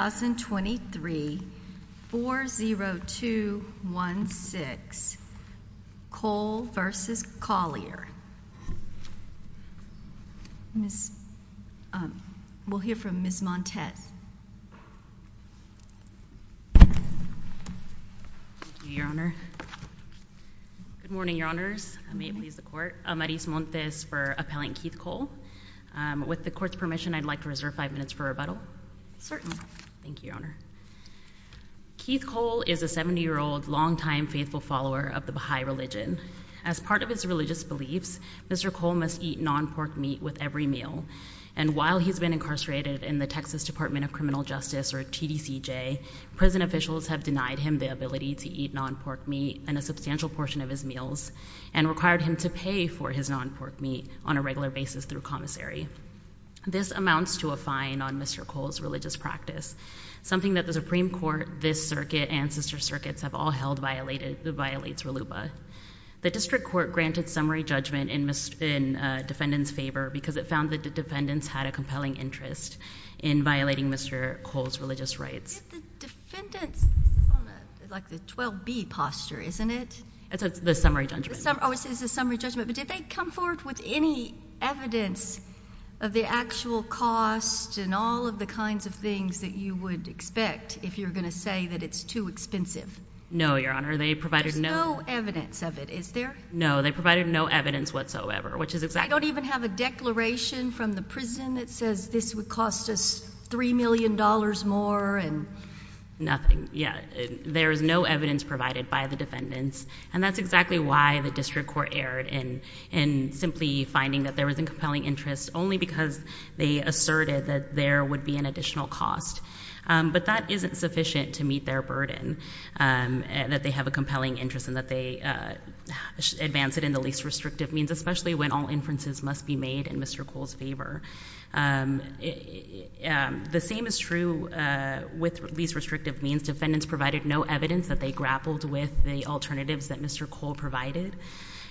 2023-40216, Cole v. Collier. We'll hear from Ms. Montez. Good morning, Your Honors, I may please the Court. Maris Montez for Appellant Keith Cole. With the Court's permission, I'd like to reserve five minutes for rebuttal. Certainly. Thank you, Your Honor. Keith Cole is a 70-year-old, long-time faithful follower of the Baha'i religion. As part of his religious beliefs, Mr. Cole must eat non-pork meat with every meal. And while he's been incarcerated in the Texas Department of Criminal Justice, or TDCJ, prison officials have denied him the ability to eat non-pork meat in a substantial portion of his meals, and required him to pay for his non-pork meat on a regular basis through commissary. This amounts to a fine on Mr. Cole's religious practice, something that the Supreme Court, this circuit, and sister circuits have all held violates RLUBA. The District Court granted summary judgment in defendant's favor because it found that the defendants had a compelling interest in violating Mr. Cole's religious rights. The defendants, like the 12B posture, isn't it? The summary judgment. Oh, it's the summary judgment. But did they come forward with any evidence of the actual cost and all of the kinds of things that you would expect if you're going to say that it's too expensive? No, Your Honor. They provided no— There's no evidence of it. Is there? No. They provided no evidence whatsoever, which is exactly— They don't even have a declaration from the prison that says this would cost us $3 million more and— Nothing. Yeah. There's no evidence provided by the defendants. And that's exactly why the District Court erred in simply finding that there was a compelling interest only because they asserted that there would be an additional cost. But that isn't sufficient to meet their burden, that they have a compelling interest and that they advance it in the least restrictive means, especially when all inferences must be made in Mr. Cole's favor. The same is true with least restrictive means. The defendants provided no evidence that they grappled with the alternatives that Mr. Cole provided.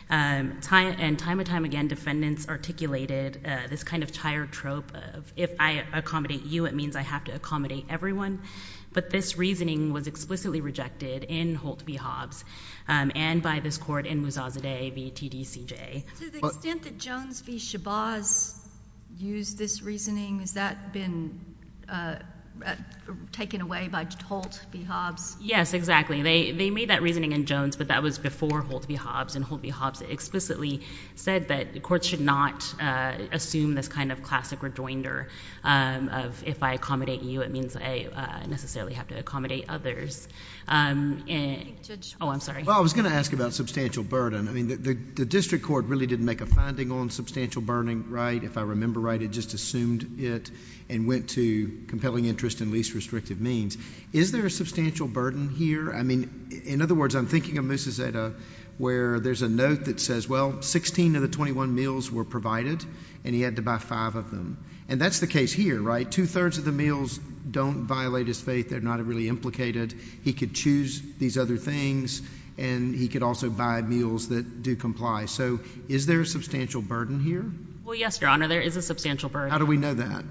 And time and time again, defendants articulated this kind of tired trope of if I accommodate you, it means I have to accommodate everyone. But this reasoning was explicitly rejected in Holt v. Hobbs and by this Court in Mouzazadeh v. TDCJ. To the extent that Jones v. Shabazz used this reasoning, has that been taken away by Holt v. Hobbs? Yes, exactly. They made that reasoning in Jones, but that was before Holt v. Hobbs. And Holt v. Hobbs explicitly said that the Court should not assume this kind of classic rejoinder of if I accommodate you, it means I necessarily have to accommodate others. Judge? Oh, I'm sorry. Well, I was going to ask about substantial burden. I mean, the District Court really didn't make a finding on substantial burden, right, if I remember right. It just assumed it and went to compelling interest in least restrictive means. Is there a substantial burden here? I mean, in other words, I'm thinking of Mouzazadeh where there's a note that says, well, 16 of the 21 meals were provided and he had to buy five of them. And that's the case here, right? Two-thirds of the meals don't violate his faith. They're not really implicated. He could choose these other things and he could also buy meals that do comply. So is there a substantial burden here? Well, yes, Your Honor, there is a substantial burden. How do we know that?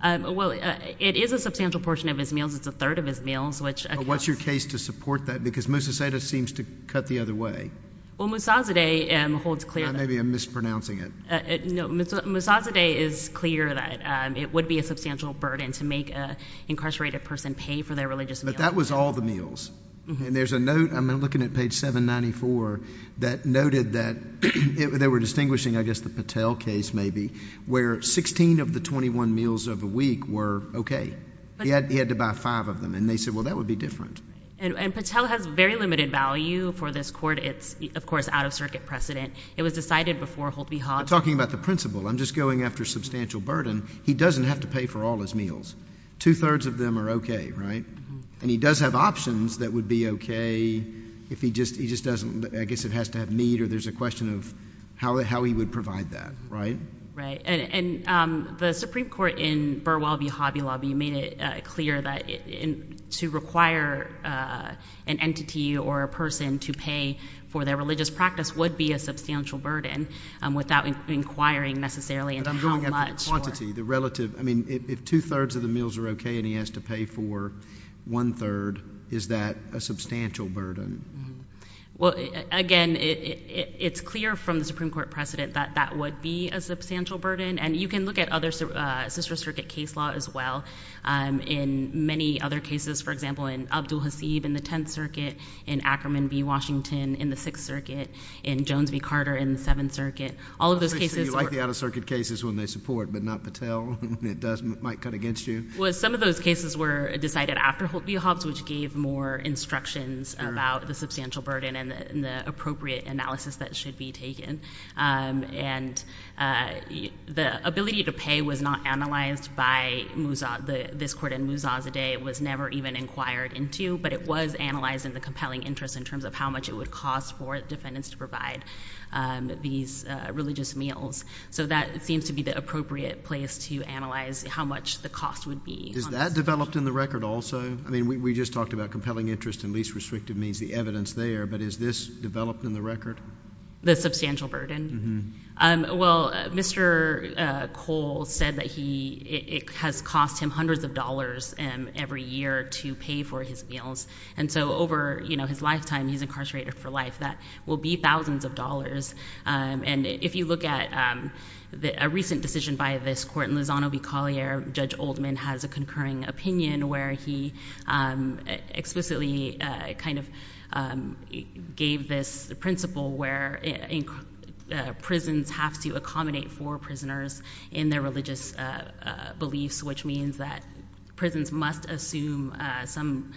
Well, it is a substantial portion of his meals. It's a third of his meals. Well, what's your case to support that? Because Mousazadeh seems to cut the other way. Well, Mouzazadeh holds clear that— Maybe I'm mispronouncing it. No, Mouzazadeh is clear that it would be a substantial burden to make an incarcerated person pay for their religious meal. But that was all the meals. And there's a note—I'm looking at page 794—that noted that they were distinguishing, I guess, the Patel case, maybe, where 16 of the 21 meals of the week were okay. He had to buy five of them. And they said, well, that would be different. And Patel has very limited value for this court. It's, of course, out-of-circuit precedent. It was decided before Holt v. Hobbs— I'm talking about the principal. I'm just going after substantial burden. He doesn't have to pay for all his meals. Two-thirds of them are okay, right? And he does have options that would be okay if he just doesn't—I guess it has to have meat or there's a question of how he would provide that, right? Right. And the Supreme Court in Burwell v. Hobby Lobby made it clear that to require an entity or a person to pay for their religious practice would be a substantial burden without inquiring necessarily into how much. But I'm going after the quantity, the relative—I mean, if two-thirds of the meals are okay and he has to pay for one-third, is that a substantial burden? Well, again, it's clear from the Supreme Court precedent that that would be a substantial burden. And you can look at other sister circuit case law as well in many other cases. For example, in Abdul Hasib in the Tenth Circuit, in Ackerman v. Washington in the Sixth Circuit, in Jones v. Carter in the Seventh Circuit. All of those cases— Obviously, you like the out-of-circuit cases when they support, but not Patel when it might cut against you? Well, some of those cases were decided after Holt v. Hobbs, which gave more instructions about the substantial burden and the appropriate analysis that should be taken. And the ability to pay was not analyzed by this court in Mouzazadeh. It was never even inquired into, but it was analyzed in the compelling interest in terms of how much it would cost for defendants to provide these religious meals. So that seems to be the appropriate place to analyze how much the cost would be. Is that developed in the record also? I mean, we just talked about compelling interest and least restrictive means, the evidence there. But is this developed in the record? The substantial burden? Well, Mr. Cole said that it has cost him hundreds of dollars every year to pay for his meals. And so over his lifetime, he's incarcerated for life, that will be thousands of dollars. And if you look at a recent decision by this court in Lozano v. Collier, Judge Oldman has a concurring opinion where he explicitly kind of gave this principle where prisons have to accommodate for prisoners in their religious beliefs, which means that prisons must assume some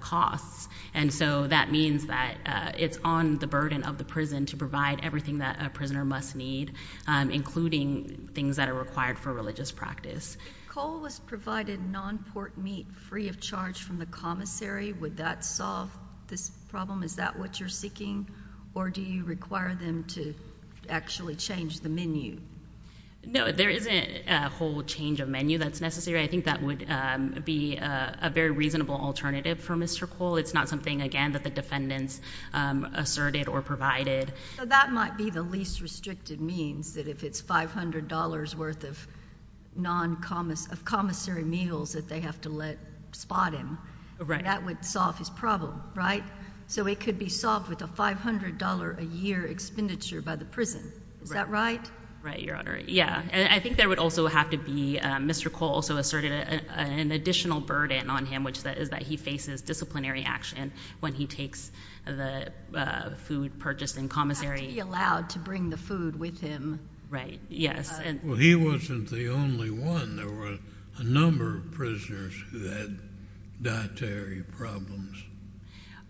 costs. And so that means that it's on the burden of the prison to provide everything that a prisoner must need, including things that are required for religious practice. If Cole was provided non-pork meat free of charge from the commissary, would that solve this problem? Is that what you're seeking? Or do you require them to actually change the menu? No, there isn't a whole change of menu that's necessary. I think that would be a very reasonable alternative for Mr. Cole. It's not something, again, that the defendants asserted or provided. That might be the least restricted means, that if it's $500 worth of non-commissary meals that they have to let spot him, that would solve his problem, right? So it could be solved with a $500 a year expenditure by the prison, is that right? Right, Your Honor. Yeah. I think there would also have to be, Mr. Cole also asserted an additional burden on him, which is that he faces disciplinary action when he takes the food purchased in commissary. He has to be allowed to bring the food with him. Right. Yes. Well, he wasn't the only one. There were a number of prisoners who had dietary problems.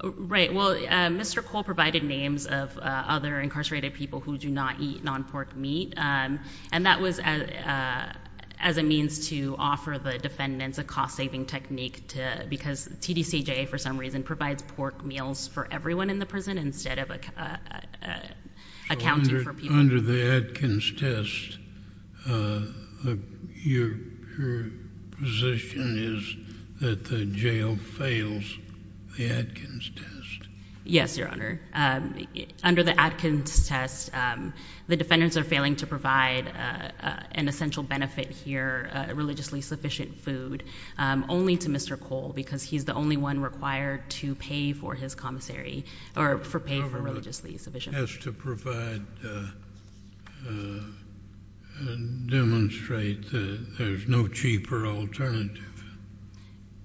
Right. Well, Mr. Cole provided names of other incarcerated people who do not eat non-pork meat, and that was as a means to offer the defendants a cost-saving technique to... because TDCJA for some reason provides pork meals for everyone in the prison instead of accounting for people. Under the Atkins test, your position is that the jail fails the Atkins test? Yes, Your Honor. Under the Atkins test, the defendants are failing to provide an essential benefit here, a religiously sufficient food, only to Mr. Cole because he's the only one required to pay for his commissary, or pay for religiously sufficient food. The government has to provide... demonstrate that there's no cheaper alternative.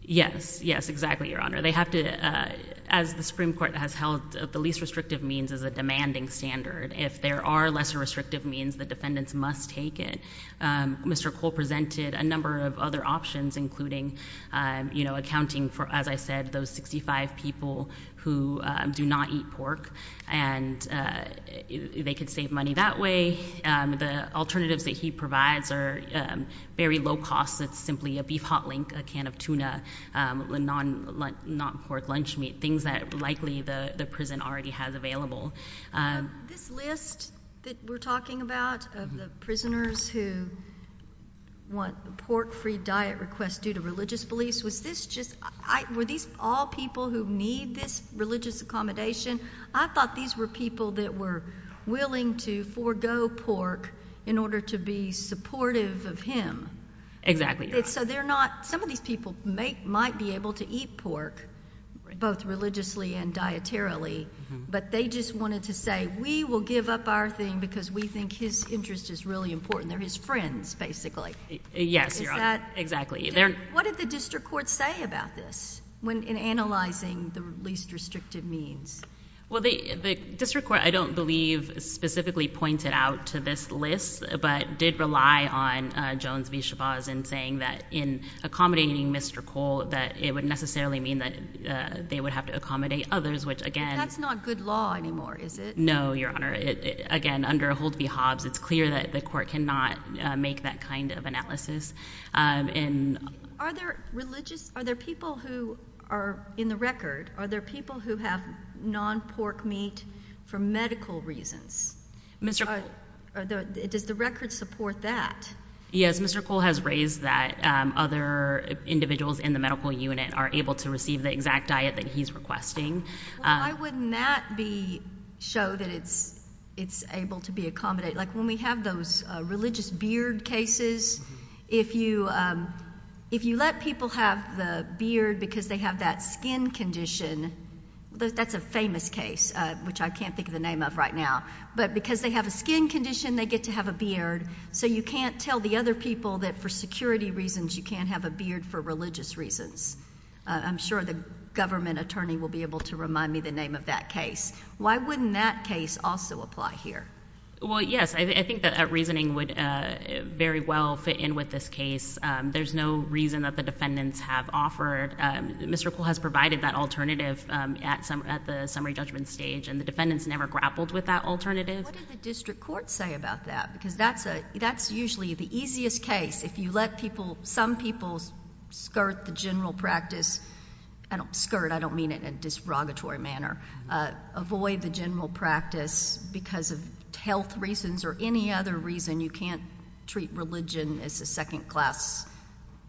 Yes. Yes, exactly, Your Honor. They have to... as the Supreme Court has held, the least restrictive means is a demanding standard. If there are lesser restrictive means, the defendants must take it. Mr. Cole presented a number of other options, including accounting for, as I said, those 65 people who do not eat pork, and they could save money that way. The alternatives that he provides are very low cost. It's simply a beef hot link, a can of tuna, a non-pork lunch meat, things that likely the prison already has available. This list that we're talking about of the prisoners who want the pork-free diet request due to religious beliefs, was this just... were these all people who need this religious accommodation? I thought these were people that were willing to forego pork in order to be supportive of him. Exactly, Your Honor. So they're not... some of these people might be able to eat pork, both religiously and dietarily, but they just wanted to say, we will give up our thing because we think his interest is really important. They're his friends, basically. Yes, Your Honor. Is that... Exactly. What did the district court say about this in analyzing the least restrictive means? Well, the district court, I don't believe, specifically pointed out to this list, but did rely on Jones v. Shabazz in saying that in accommodating Mr. Cole, that it would necessarily mean that they would have to accommodate others, which again... But that's not good law anymore, is it? No, Your Honor. Again, under Holt v. Hobbs, it's clear that the court cannot make that kind of analysis. Are there religious... are there people who are in the record, are there people who have non-pork meat for medical reasons? Mr. Cole. Does the record support that? Yes, Mr. Cole has raised that other individuals in the medical unit are able to receive the exact diet that he's requesting. Why wouldn't that be... show that it's able to be accommodated? Like when we have those religious beard cases, if you let people have the beard because they have that skin condition, that's a famous case, which I can't think of the name of right now. But because they have a skin condition, they get to have a beard, so you can't tell the other people that for security reasons, you can't have a beard for religious reasons. I'm sure the government attorney will be able to remind me the name of that case. Why wouldn't that case also apply here? Well, yes. I think that reasoning would very well fit in with this case. There's no reason that the defendants have offered. Mr. Cole has provided that alternative at the summary judgment stage and the defendants never grappled with that alternative. What did the district court say about that? Because that's usually the easiest case. If you let some people skirt the general practice... skirt, I don't mean it in a derogatory manner. Avoid the general practice because of health reasons or any other reason, you can't treat religion as a second-class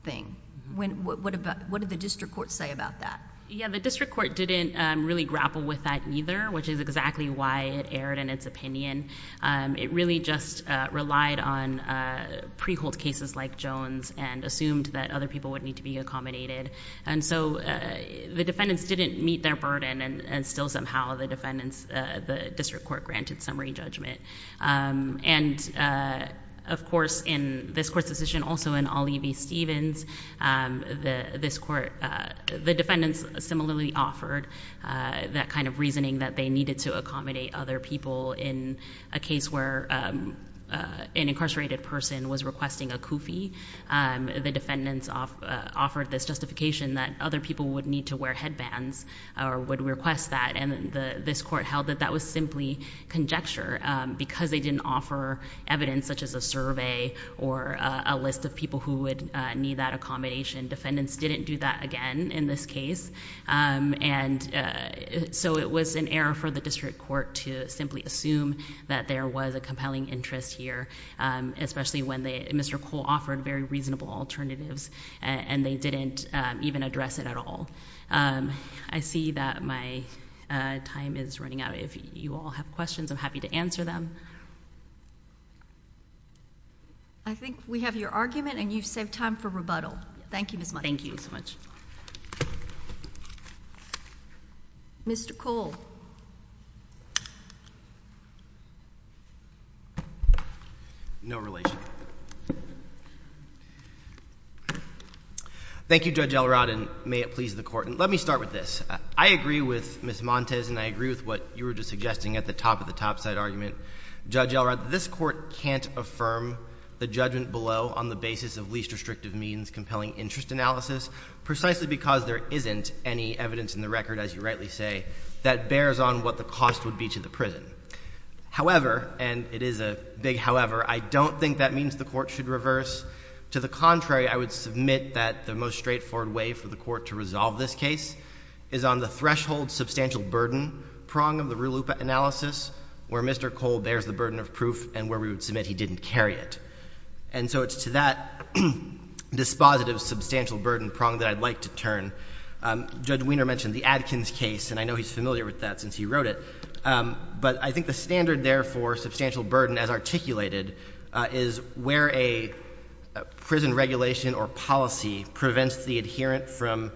thing. What did the district court say about that? The district court didn't really grapple with that either, which is exactly why it aired in its opinion. It really just relied on pre-hold cases like Jones and assumed that other people would need to be accommodated. The defendants didn't meet their burden and still somehow the district court granted summary judgment. Of course, in this court's decision, also in Olivi-Stevens, the defendants similarly offered that kind of reasoning that they needed to accommodate other people in a case where an incarcerated person was requesting a kufi. The defendants offered this justification that other people would need to wear headbands or would request that. This court held that that was simply conjecture because they didn't offer evidence such as a survey or a list of people who would need that accommodation. Defendants didn't do that again in this case. It was an error for the district court to simply assume that there was a compelling interest here, especially when Mr. Cole offered very reasonable alternatives and they didn't even address it at all. I see that my time is running out. If you all have questions, I'm happy to answer them. I think we have your argument and you've saved time for rebuttal. Thank you, Ms. Mudd. Thank you so much. Mr. Cole. No relation. Thank you, Judge Elrod, and may it please the court. Let me start with this. I agree with Ms. Montes and I agree with what you were just suggesting at the top of the topside argument. Judge Elrod, this court can't affirm the judgment below on the basis of least restrictive means compelling interest analysis precisely because there isn't any evidence in the record, as you rightly say, that bears on what the cost would be to the prison. However, and it is a big however, I don't think that means the court should reverse. To the contrary, I would submit that the most straightforward way for the court to resolve this case is on the threshold substantial burden prong of the RULA-UPA analysis where Mr. Cole bears the burden of proof and where we would submit he didn't carry it. And so it's to that dispositive substantial burden prong that I'd like to turn. Judge Wiener mentioned the Adkins case, and I know he's familiar with that since he wrote it. But I think the standard there for substantial burden as articulated is where a prison regulation or policy prevents the adherent from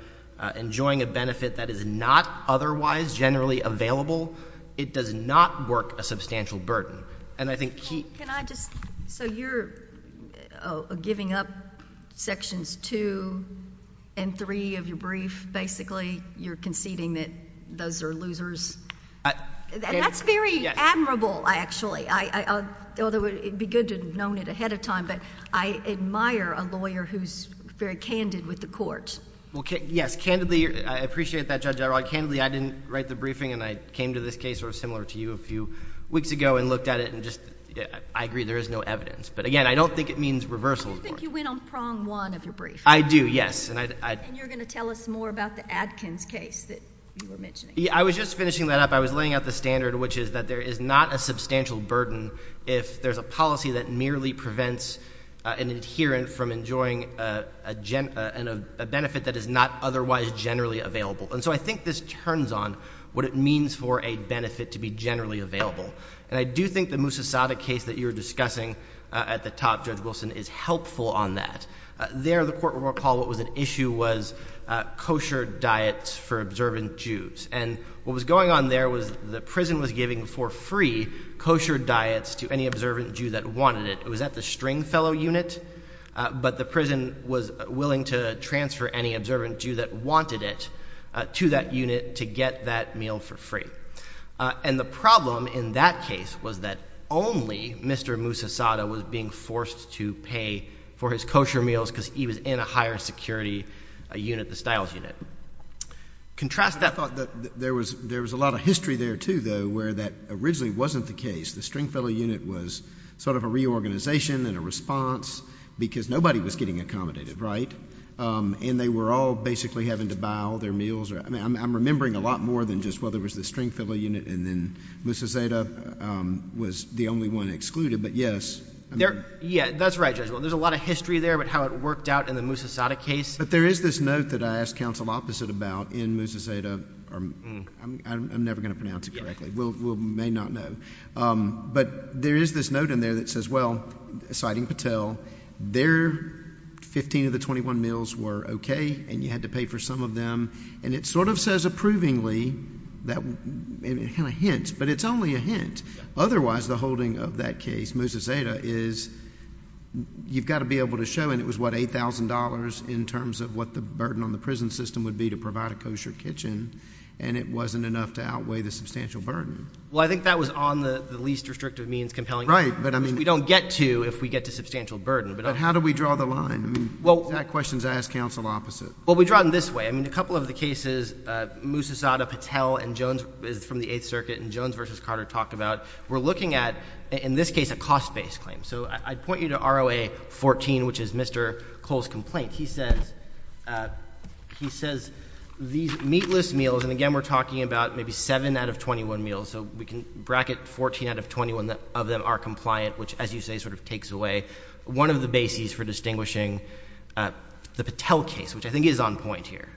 enjoying a benefit that is not otherwise generally available, it does not work a substantial burden. And I think he— Can I just—so you're giving up sections two and three of your brief, basically? You're conceding that those are losers? That's very admirable, actually, although it would be good to have known it ahead of time. But I admire a lawyer who's very candid with the court. Well, yes. Candidly, I appreciate that, Judge O'Rourke. Candidly, I didn't write the briefing, and I came to this case sort of similar to you a few weeks ago and looked at it and just—I agree, there is no evidence. But again, I don't think it means reversal of the court. Do you think you went on prong one of your brief? I do, yes. And I— And you're going to tell us more about the Adkins case that you were mentioning? I was just finishing that up. I was laying out the standard, which is that there is not a substantial burden if there's a policy that merely prevents an adherent from enjoying a benefit that is not otherwise generally available. And so I think this turns on what it means for a benefit to be generally available. And I do think the Moussassada case that you were discussing at the top, Judge Wilson, is helpful on that. There, the court recalled what was an issue was kosher diets for observant Jews. And what was going on there was the prison was giving for free kosher diets to any observant Jew that wanted it. It was at the Stringfellow unit, but the prison was willing to transfer any observant Jew that wanted it to that unit to get that meal for free. And the problem in that case was that only Mr. Moussassada was being forced to pay for his kosher meals because he was in a higher security unit, the Stiles unit. Contrast that. I thought that there was a lot of history there, too, though, where that originally wasn't the case. The Stringfellow unit was sort of a reorganization and a response because nobody was getting accommodated, right? And they were all basically having to buy all their meals or, I mean, I'm remembering a lot more than just whether it was the Stringfellow unit and then Moussassada was the only one excluded. But yes. Yeah, that's right, Judge Wilson. There's a lot of history there about how it worked out in the Moussassada case. But there is this note that I asked counsel Opposite about in Moussassada, or I'm never going to pronounce it correctly. We may not know. But there is this note in there that says, well, citing Patel, their 15 of the 21 meals were okay and you had to pay for some of them. And it sort of says approvingly, and it kind of hints, but it's only a hint. Otherwise, the holding of that case, Moussassada, is you've got to be able to show, and it was what, $8,000 in terms of what the burden on the prison system would be to provide a kosher kitchen, and it wasn't enough to outweigh the substantial burden. Well, I think that was on the least restrictive means compelling. Right, but I mean. We don't get to if we get to substantial burden. But how do we draw the line? I mean, exact questions I asked counsel Opposite. Well, we draw it in this way. I mean, a couple of the cases, Moussassada, Patel, and Jones is from the Eighth Circuit, and Jones versus Carter talked about, we're looking at, in this case, a cost-based claim. So I'd point you to ROA 14, which is Mr. Cole's complaint. He says these meatless meals, and again, we're talking about maybe 7 out of 21 meals, so we can bracket 14 out of 21 of them are compliant, which, as you say, sort of takes away one of the bases for distinguishing the Patel case, which I think is on point here.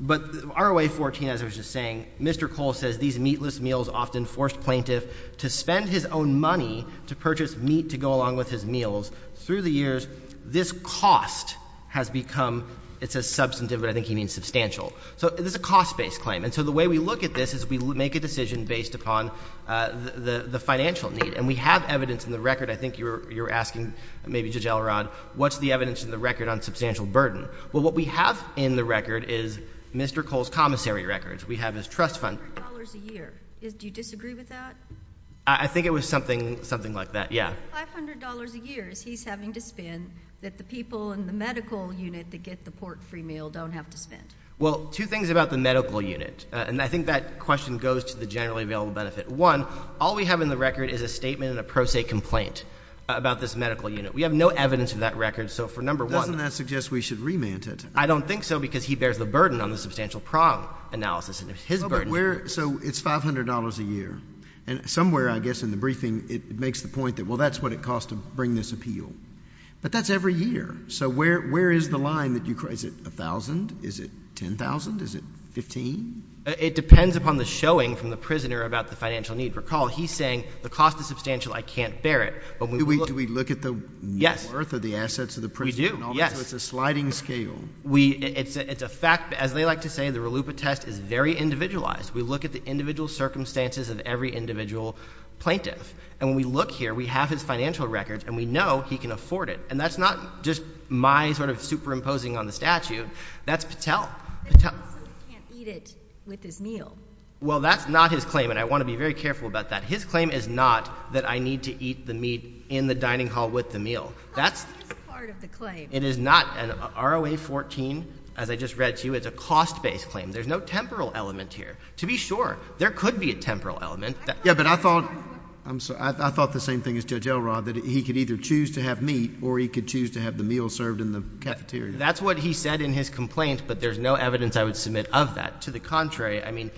But ROA 14, as I was just saying, Mr. Cole says these meatless meals often forced plaintiff to spend his own money to purchase meat to go along with his meals. Through the years, this cost has become, it says substantive, but I think he means substantial. So this is a cost-based claim. And so the way we look at this is we make a decision based upon the financial need. And we have evidence in the record. I think you were asking maybe Judge Elrod, what's the evidence in the record on substantial burden? Well, what we have in the record is Mr. Cole's commissary records. We have his trust fund. $500 a year. Do you disagree with that? I think it was something like that, yeah. $500 a year is he's having to spend that the people in the medical unit that get the port free meal don't have to spend. Well, two things about the medical unit, and I think that question goes to the generally available benefit. One, all we have in the record is a statement and a pro se complaint about this medical unit. We have no evidence of that record. So for number one. Doesn't that suggest we should remand it? I don't think so because he bears the burden on the substantial prong analysis and his burden. So it's $500 a year. And somewhere, I guess, in the briefing, it makes the point that, well, that's what it costs to bring this appeal. But that's every year. So where is the line that you, is it $1,000, is it $10,000, is it $15,000? It depends upon the showing from the prisoner about the financial need. Recall, he's saying the cost is substantial. I can't bear it. Do we look at the worth of the assets of the prisoner? We do. Yes. So it's a sliding scale. It's a fact. As they like to say, the RLUIPA test is very individualized. We look at the individual circumstances of every individual plaintiff. And when we look here, we have his financial records, and we know he can afford it. And that's not just my sort of superimposing on the statute. That's Patel. So he can't eat it with his meal? Well, that's not his claim, and I want to be very careful about that. His claim is not that I need to eat the meat in the dining hall with the meal. That's part of the claim. It is not an ROA-14, as I just read to you. It's a cost-based claim. There's no temporal element here. To be sure. There could be a temporal element. Yeah, but I thought, I'm sorry, I thought the same thing as Judge Elrod, that he could either choose to have meat, or he could choose to have the meal served in the cafeteria. That's what he said in his complaint, but there's no evidence I would submit of that. To the contrary, I mean,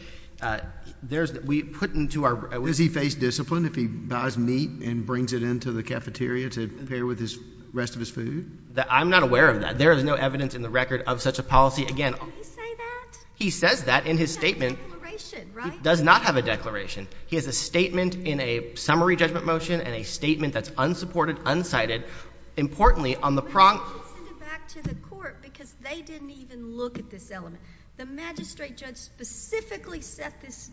there's, we put into our— Does he face discipline if he buys meat and brings it into the cafeteria to pair with the rest of his food? I'm not aware of that. There is no evidence in the record of such a policy. Again— Did he say that? He says that in his statement. He has a declaration, right? He does not have a declaration. He has a statement in a summary judgment motion, and a statement that's unsupported, unsighted. Importantly, on the— Well, why didn't he send it back to the court? Because they didn't even look at this element. The magistrate judge specifically set this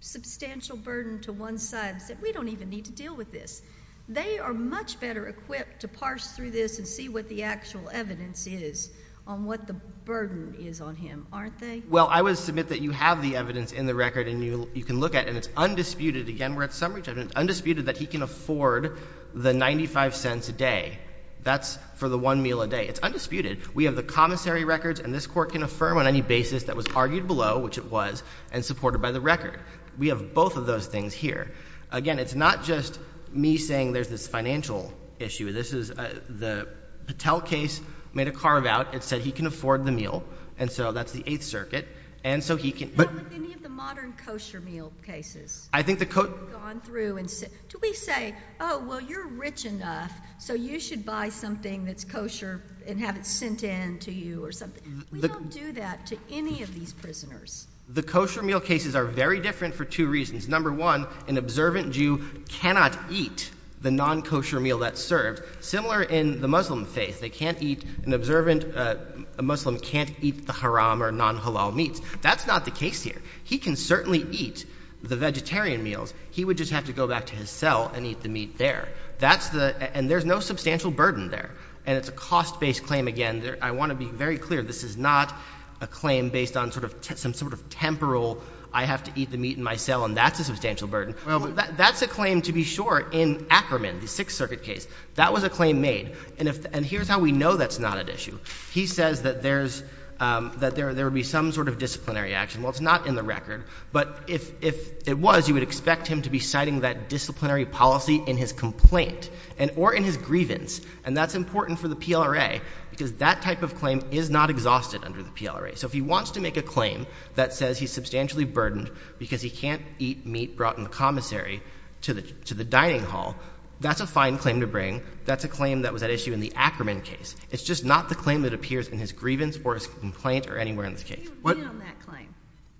substantial burden to one side and said, we don't even need to deal with this. They are much better equipped to parse through this and see what the actual evidence is on what the burden is on him, aren't they? Well, I would submit that you have the evidence in the record, and you can look at it, and it's undisputed. Again, we're at summary judgment. It's undisputed that he can afford the 95 cents a day. That's for the one meal a day. It's undisputed. We have the commissary records, and this Court can affirm on any basis that was argued below, which it was, and supported by the record. We have both of those things here. Again, it's not just me saying there's this financial issue. This is—the Patel case made a carve-out. It said he can afford the meal, and so that's the Eighth Circuit. And so he can— Not like any of the modern kosher meal cases. I think the— Gone through and—do we say, oh, well, you're rich enough, so you should buy something that's kosher and have it sent in to you or something? We don't do that to any of these prisoners. The kosher meal cases are very different for two reasons. Number one, an observant Jew cannot eat the non-kosher meal that's served. Similar in the Muslim faith. They can't eat—an observant Muslim can't eat the haram or non-halal meats. That's not the case here. He can certainly eat the vegetarian meals. He would just have to go back to his cell and eat the meat there. That's the—and there's no substantial burden there. And it's a cost-based claim, again. I want to be very clear, this is not a claim based on some sort of temporal, I have to eat the meat in my cell, and that's a substantial burden. That's a claim, to be sure, in Ackerman, the Sixth Circuit case. That was a claim made. And here's how we know that's not at issue. He says that there's—that there would be some sort of disciplinary action. Well, it's not in the record, but if it was, you would expect him to be citing that disciplinary policy in his complaint and—or in his grievance. And that's important for the PLRA, because that type of claim is not exhausted under the PLRA. So if he wants to make a claim that says he's substantially burdened because he can't eat meat brought in the commissary to the dining hall, that's a fine claim to bring. That's a claim that was at issue in the Ackerman case. It's just not the claim that appears in his grievance or his complaint or anywhere in this case. What— He would win on that claim.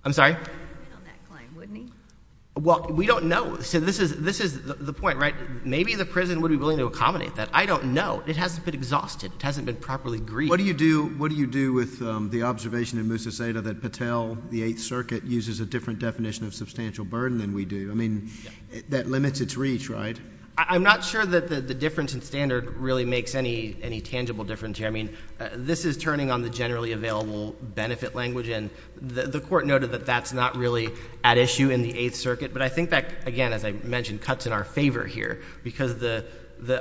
I'm sorry? He would win on that claim, wouldn't he? Well, we don't know. So this is—this is the point, right? Maybe the prison would be willing to accommodate that. But I don't know. It hasn't been exhausted. It hasn't been properly grieved. What do you do—what do you do with the observation in Musa Seyda that Patel, the Eighth Circuit, uses a different definition of substantial burden than we do? I mean, that limits its reach, right? I'm not sure that the difference in standard really makes any tangible difference here. I mean, this is turning on the generally available benefit language, and the Court noted that that's not really at issue in the Eighth Circuit. But I think that, again, as I mentioned, cuts in our favor here because the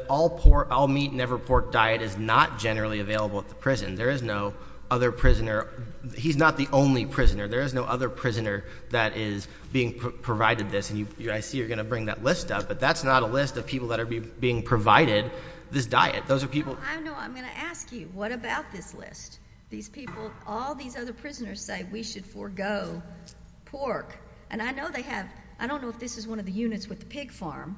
all meat, never pork diet is not generally available at the prison. There is no other prisoner—he's not the only prisoner. There is no other prisoner that is being provided this, and I see you're going to bring that list up. But that's not a list of people that are being provided this diet. Those are people— No, I know. I'm going to ask you. What about this list? These people—all these other prisoners say we should forego pork. And I know they have—I don't know if this is one of the units with the pig farm,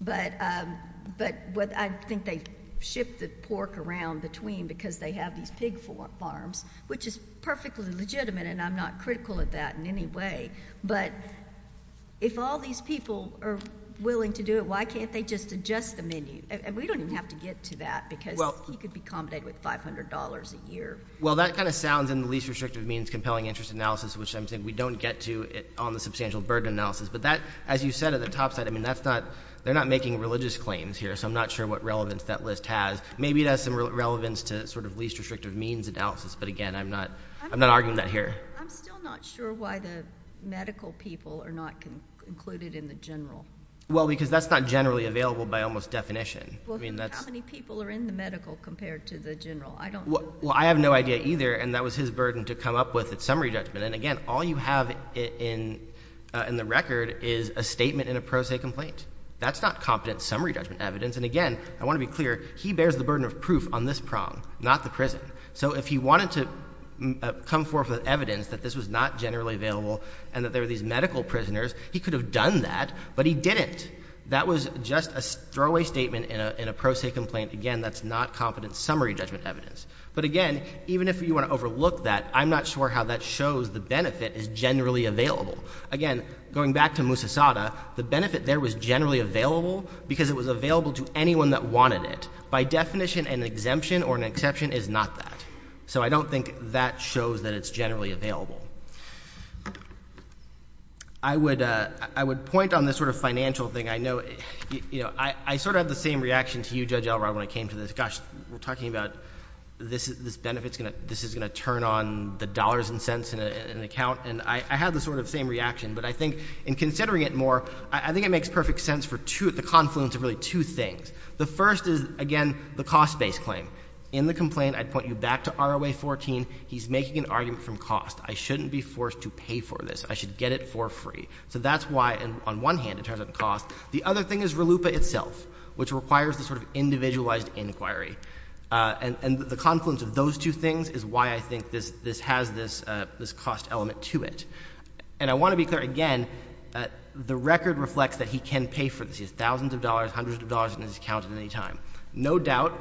but I think they ship the pork around between because they have these pig farms, which is perfectly legitimate, and I'm not critical of that in any way. But if all these people are willing to do it, why can't they just adjust the menu? And we don't even have to get to that because he could be accommodated with $500 a year. Well, that kind of sounds in the least restrictive means compelling interest analysis, which I'm saying we don't get to on the substantial burden analysis. But that, as you said at the top side, I mean, that's not—they're not making religious claims here, so I'm not sure what relevance that list has. Maybe it has some relevance to sort of least restrictive means analysis, but again, I'm not arguing that here. I'm still not sure why the medical people are not included in the general. Well, because that's not generally available by almost definition. Well, how many people are in the medical compared to the general? I don't— Well, I have no idea either, and that was his burden to come up with at summary judgment. And again, all you have in the record is a statement in a pro se complaint. That's not competent summary judgment evidence, and again, I want to be clear, he bears the burden of proof on this prong, not the prison. So if he wanted to come forth with evidence that this was not generally available and that there were these medical prisoners, he could have done that, but he didn't. That was just a throwaway statement in a pro se complaint. Again, that's not competent summary judgment evidence. But again, even if you want to overlook that, I'm not sure how that shows the benefit is generally available. Again, going back to Musa Sada, the benefit there was generally available because it was available to anyone that wanted it. By definition, an exemption or an exception is not that. So I don't think that shows that it's generally available. I would point on this sort of financial thing. I know, you know, I sort of had the same reaction to you, Judge Elrod, when I came to this. Gosh, we're talking about this benefit is going to turn on the dollars and cents in an account. And I had the sort of same reaction. But I think in considering it more, I think it makes perfect sense for two, the confluence of really two things. The first is, again, the cost-based claim. In the complaint, I'd point you back to ROA 14. He's making an argument from cost. I shouldn't be forced to pay for this. I should get it for free. So that's why, on one hand, it turns out to cost. The other thing is RLUIPA itself, which requires the sort of individualized inquiry. And the confluence of those two things is why I think this has this cost element to it. And I want to be clear, again, the record reflects that he can pay for this. He has thousands of dollars, hundreds of dollars in his account at any time. No doubt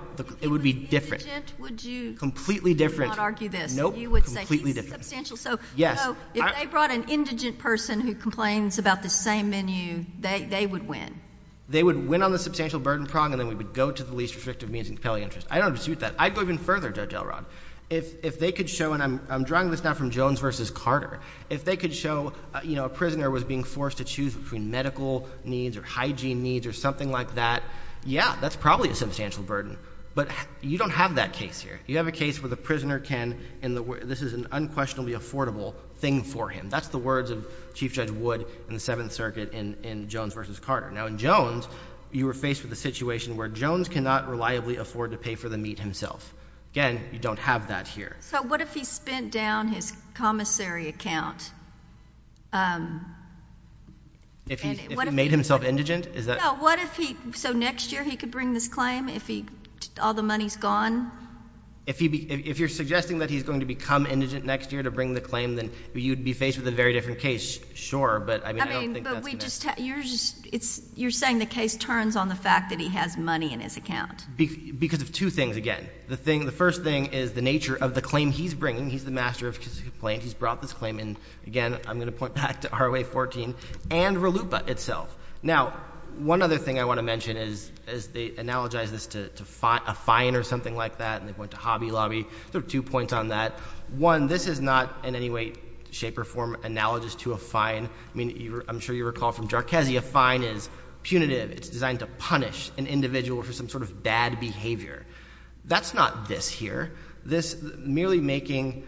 it would be different. Completely indigent? Would you not argue this? Nope. Completely different. You would say he's substantial. Yes. So, if they brought an indigent person who complains about the same menu, they would win? They would win on the substantial burden prong, and then we would go to the least restrictive means of compelling interest. I don't dispute that. I'd go even further, Judge Elrod. If they could show, and I'm drawing this now from Jones v. Carter. If they could show, you know, a prisoner was being forced to choose between medical needs or hygiene needs or something like that, yeah, that's probably a substantial burden. But you don't have that case here. You have a case where the prisoner can, and this is an unquestionably affordable thing for him. That's the words of Chief Judge Wood in the Seventh Circuit in Jones v. Carter. Now, in Jones, you were faced with a situation where Jones cannot reliably afford to pay for the meat himself. Again, you don't have that here. So, what if he spent down his commissary account? If he made himself indigent? No. So, what if he, so next year he could bring this claim if he, all the money's gone? If he, if you're suggesting that he's going to become indigent next year to bring the claim, then you'd be faced with a very different case, sure, but I mean, I don't think that's going to happen. I mean, but we just, you're just, it's, you're saying the case turns on the fact that he has money in his account. Because of two things, again. The thing, the first thing is the nature of the claim he's bringing. He's the master of his complaint. He's brought this claim in. Again, I'm going to point back to ROA 14 and RLUIPA itself. Now, one other thing I want to mention is, is they analogize this to a fine or something like that. And they point to Hobby Lobby. There are two points on that. One, this is not in any way, shape, or form analogous to a fine. I mean, you're, I'm sure you recall from Jarkezia, fine is punitive. It's designed to punish an individual for some sort of bad behavior. That's not this here. This merely making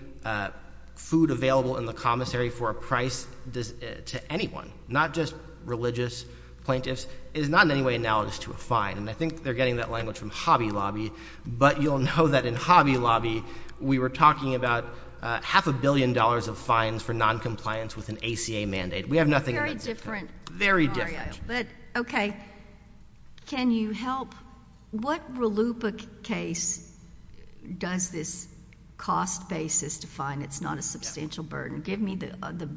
food available in the commissary for a price to anyone. Not just religious plaintiffs. It is not in any way analogous to a fine. And I think they're getting that language from Hobby Lobby. But you'll know that in Hobby Lobby, we were talking about half a billion dollars of fines for noncompliance with an ACA mandate. We have nothing on that. Very different. Very different. But, okay. Can you help? What RLUIPA case does this cost basis define? It's not a substantial burden. Give me the,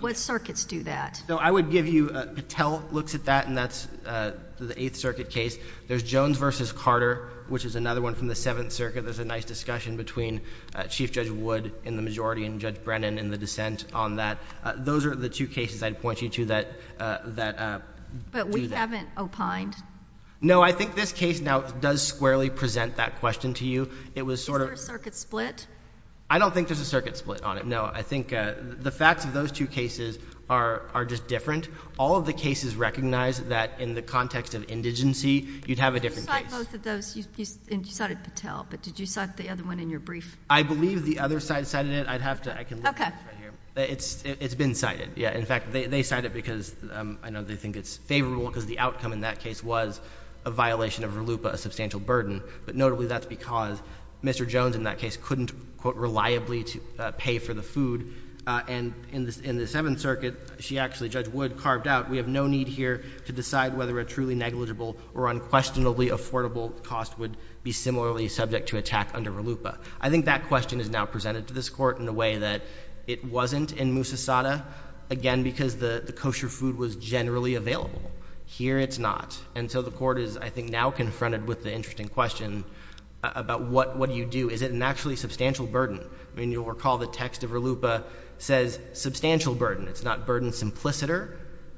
what circuits do that? So, I would give you, Patel looks at that, and that's the Eighth Circuit case. There's Jones v. Carter, which is another one from the Seventh Circuit. There's a nice discussion between Chief Judge Wood in the majority and Judge Brennan in the dissent on that. Those are the two cases I'd point you to that do that. But we haven't opined. No, I think this case now does squarely present that question to you. It was sort of. Is there a circuit split? I don't think there's a circuit split on it, no. I think the facts of those two cases are just different. All of the cases recognize that in the context of indigency, you'd have a different case. You cited both of those. You cited Patel, but did you cite the other one in your brief? I believe the other side cited it. I'd have to, I can look at this right here. It's been cited. Yeah. In fact, they cite it because, I know they think it's favorable because the outcome in that case was a violation of RLUIPA, a substantial burden, but notably that's because Mr. Jones in that case couldn't, quote, reliably pay for the food. And in the Seventh Circuit, she actually, Judge Wood, carved out, we have no need here to decide whether a truly negligible or unquestionably affordable cost would be similarly subject to attack under RLUIPA. I think that question is now presented to this Court in a way that it wasn't in Musasada, again because the kosher food was generally available. Here it's not. And so the Court is, I think, now confronted with the interesting question about what do we do? Is it an actually substantial burden? I mean, you'll recall the text of RLUIPA says substantial burden. It's not burden simpliciter.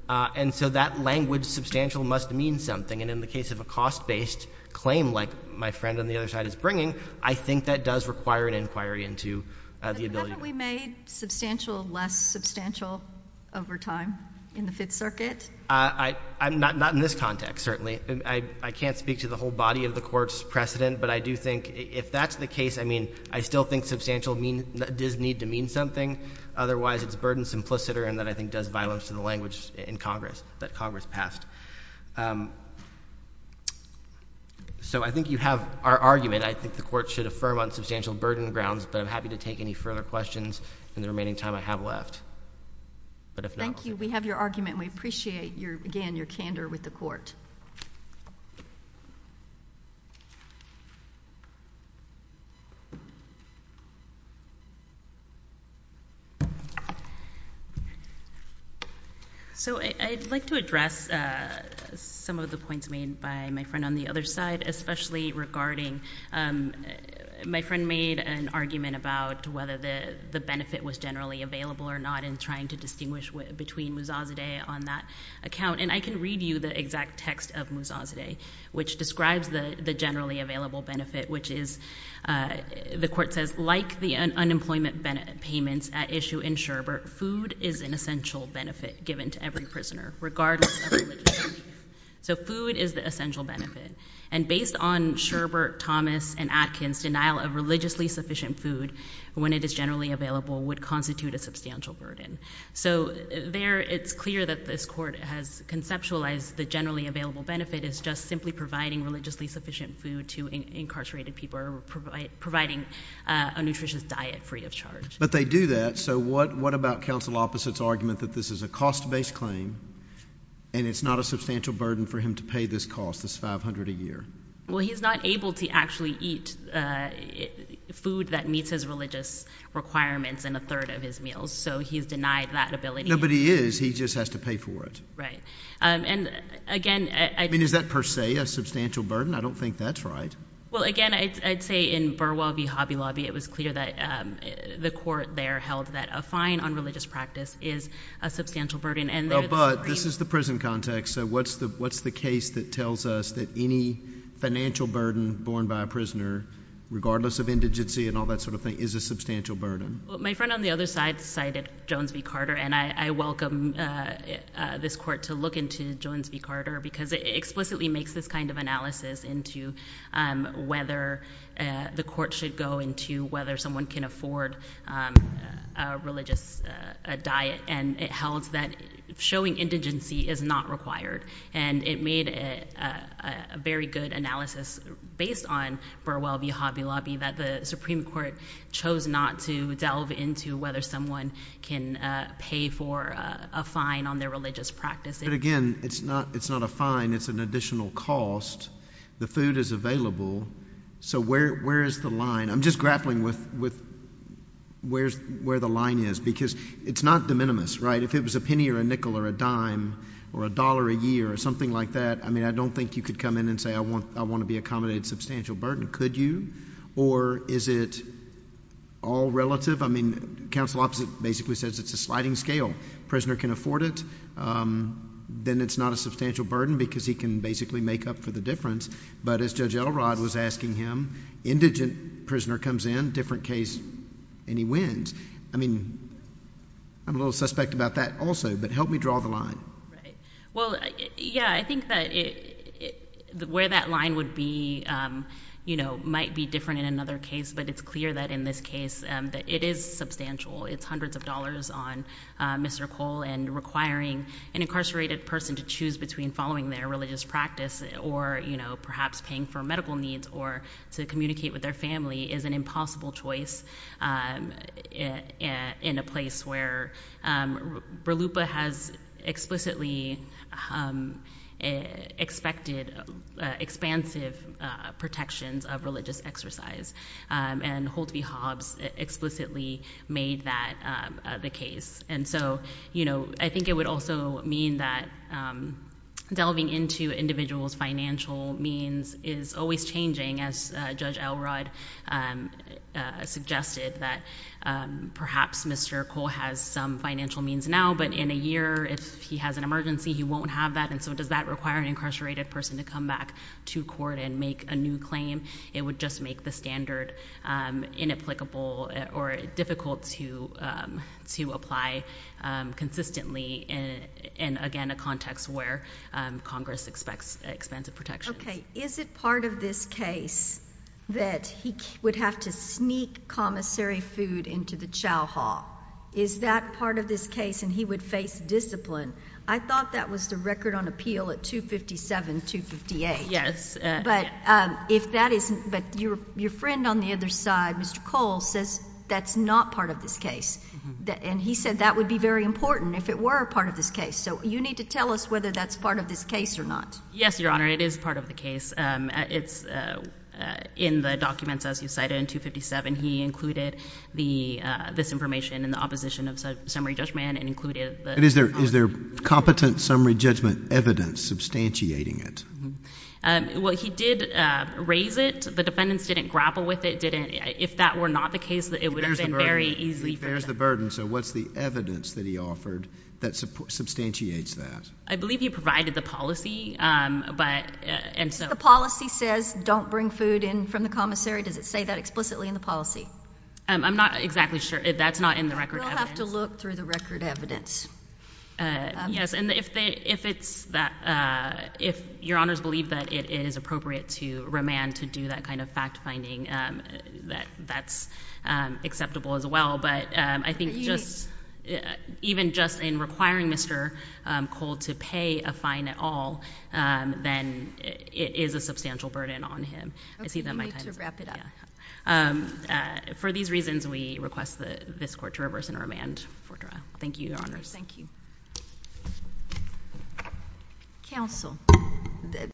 And so that language, substantial, must mean something. And in the case of a cost-based claim like my friend on the other side is bringing, I think that does require an inquiry into the ability to— But haven't we made substantial less substantial over time in the Fifth Circuit? Not in this context, certainly. I can't speak to the whole body of the Court's precedent, but I do think if that's the case, I mean, I still think substantial does need to mean something, otherwise it's burden simpliciter and that I think does violence to the language in Congress that Congress passed. So I think you have our argument. I think the Court should affirm on substantial burden grounds, but I'm happy to take any further questions in the remaining time I have left. But if not— Thank you. We have your argument. We appreciate, again, your candor with the Court. So I'd like to address some of the points made by my friend on the other side, especially regarding—my friend made an argument about whether the benefit was generally available or not in trying to distinguish between Musazadeh on that account. And I can read you the exact text of Musazadeh, which describes the generally available benefit, which is—the Court says, like the unemployment payments at issue in Sherbert, food is an essential benefit given to every prisoner, regardless of religion. So food is the essential benefit. And based on Sherbert, Thomas, and Atkins, denial of religiously sufficient food when it is generally available would constitute a substantial burden. So there, it's clear that this Court has conceptualized the generally available benefit as just simply providing religiously sufficient food to incarcerated people, or providing a nutritious diet free of charge. But they do that. So what about counsel opposite's argument that this is a cost-based claim, and it's not a substantial burden for him to pay this cost, this $500 a year? Well, he's not able to actually eat food that meets his religious requirements in a third of his meals. So he's denied that ability. No, but he is. He just has to pay for it. Right. And again— I mean, is that per se a substantial burden? I don't think that's right. Well, again, I'd say in Burwell v. Hobby Lobby, it was clear that the Court there held that a fine on religious practice is a substantial burden, and they're— But this is the prison context, so what's the case that tells us that any financial burden borne by a prisoner, regardless of indigency and all that sort of thing, is a substantial burden? Well, my friend on the other side cited Jones v. Carter, and I welcome this Court to look into Jones v. Carter, because it explicitly makes this kind of analysis into whether the Supreme Court should go into whether someone can afford a religious diet, and it held that showing indigency is not required. And it made a very good analysis based on Burwell v. Hobby Lobby that the Supreme Court chose not to delve into whether someone can pay for a fine on their religious practice. But again, it's not a fine, it's an additional cost. The food is available, so where is the line? I'm just grappling with where the line is, because it's not de minimis, right? If it was a penny or a nickel or a dime or a dollar a year or something like that, I mean, I don't think you could come in and say, I want to be accommodated substantial burden. Could you? Or is it all relative? I mean, counsel opposite basically says it's a sliding scale. Prisoner can afford it, then it's not a substantial burden because he can basically make up for the difference. But as Judge Elrod was asking him, indigent prisoner comes in, different case, and he wins. I mean, I'm a little suspect about that also, but help me draw the line. Right. Well, yeah, I think that where that line would be might be different in another case, but it's clear that in this case that it is substantial. It's hundreds of dollars on Mr. Cole and requiring an incarcerated person to choose between following their religious practice or perhaps paying for medical needs or to communicate with their family is an impossible choice in a place where Berlupa has explicitly expected expansive protections of religious exercise. And Holtby Hobbs explicitly made that the case. And so, you know, I think it would also mean that delving into individual's financial means is always changing, as Judge Elrod suggested, that perhaps Mr. Cole has some financial means now, but in a year, if he has an emergency, he won't have that. And so does that require an incarcerated person to come back to court and make a new claim? It would just make the standard inapplicable or difficult to apply consistently in, again, a context where Congress expects expansive protections. Okay. Is it part of this case that he would have to sneak commissary food into the chow hall? Is that part of this case and he would face discipline? I thought that was the record on appeal at 257, 258. Yes. But if that isn't, but your friend on the other side, Mr. Cole, says that's not part of this case. And he said that would be very important if it were a part of this case. So you need to tell us whether that's part of this case or not. Yes, Your Honor, it is part of the case. It's in the documents, as you cited, in 257, he included this information in the opposition of summary judgment and included the- Is there competent summary judgment evidence substantiating it? Well, he did raise it. The defendants didn't grapple with it, didn't, if that were not the case, it would have been very easy for them. It bears the burden. So what's the evidence that he offered that substantiates that? I believe he provided the policy, but, and so- The policy says, don't bring food in from the commissary, does it say that explicitly in the policy? I'm not exactly sure. That's not in the record evidence. We'll have to look through the record evidence. Yes, and if it's that, if Your Honors believe that it is appropriate to remand to do that kind of fact-finding, that's acceptable as well, but I think just, even just in requiring Mr. Cole to pay a fine at all, then it is a substantial burden on him. I see that my time's up. Okay, you need to wrap it up. For these reasons, we request that this court to reverse and remand Fortra. Thank you, Your Honors. Thank you. Counsel.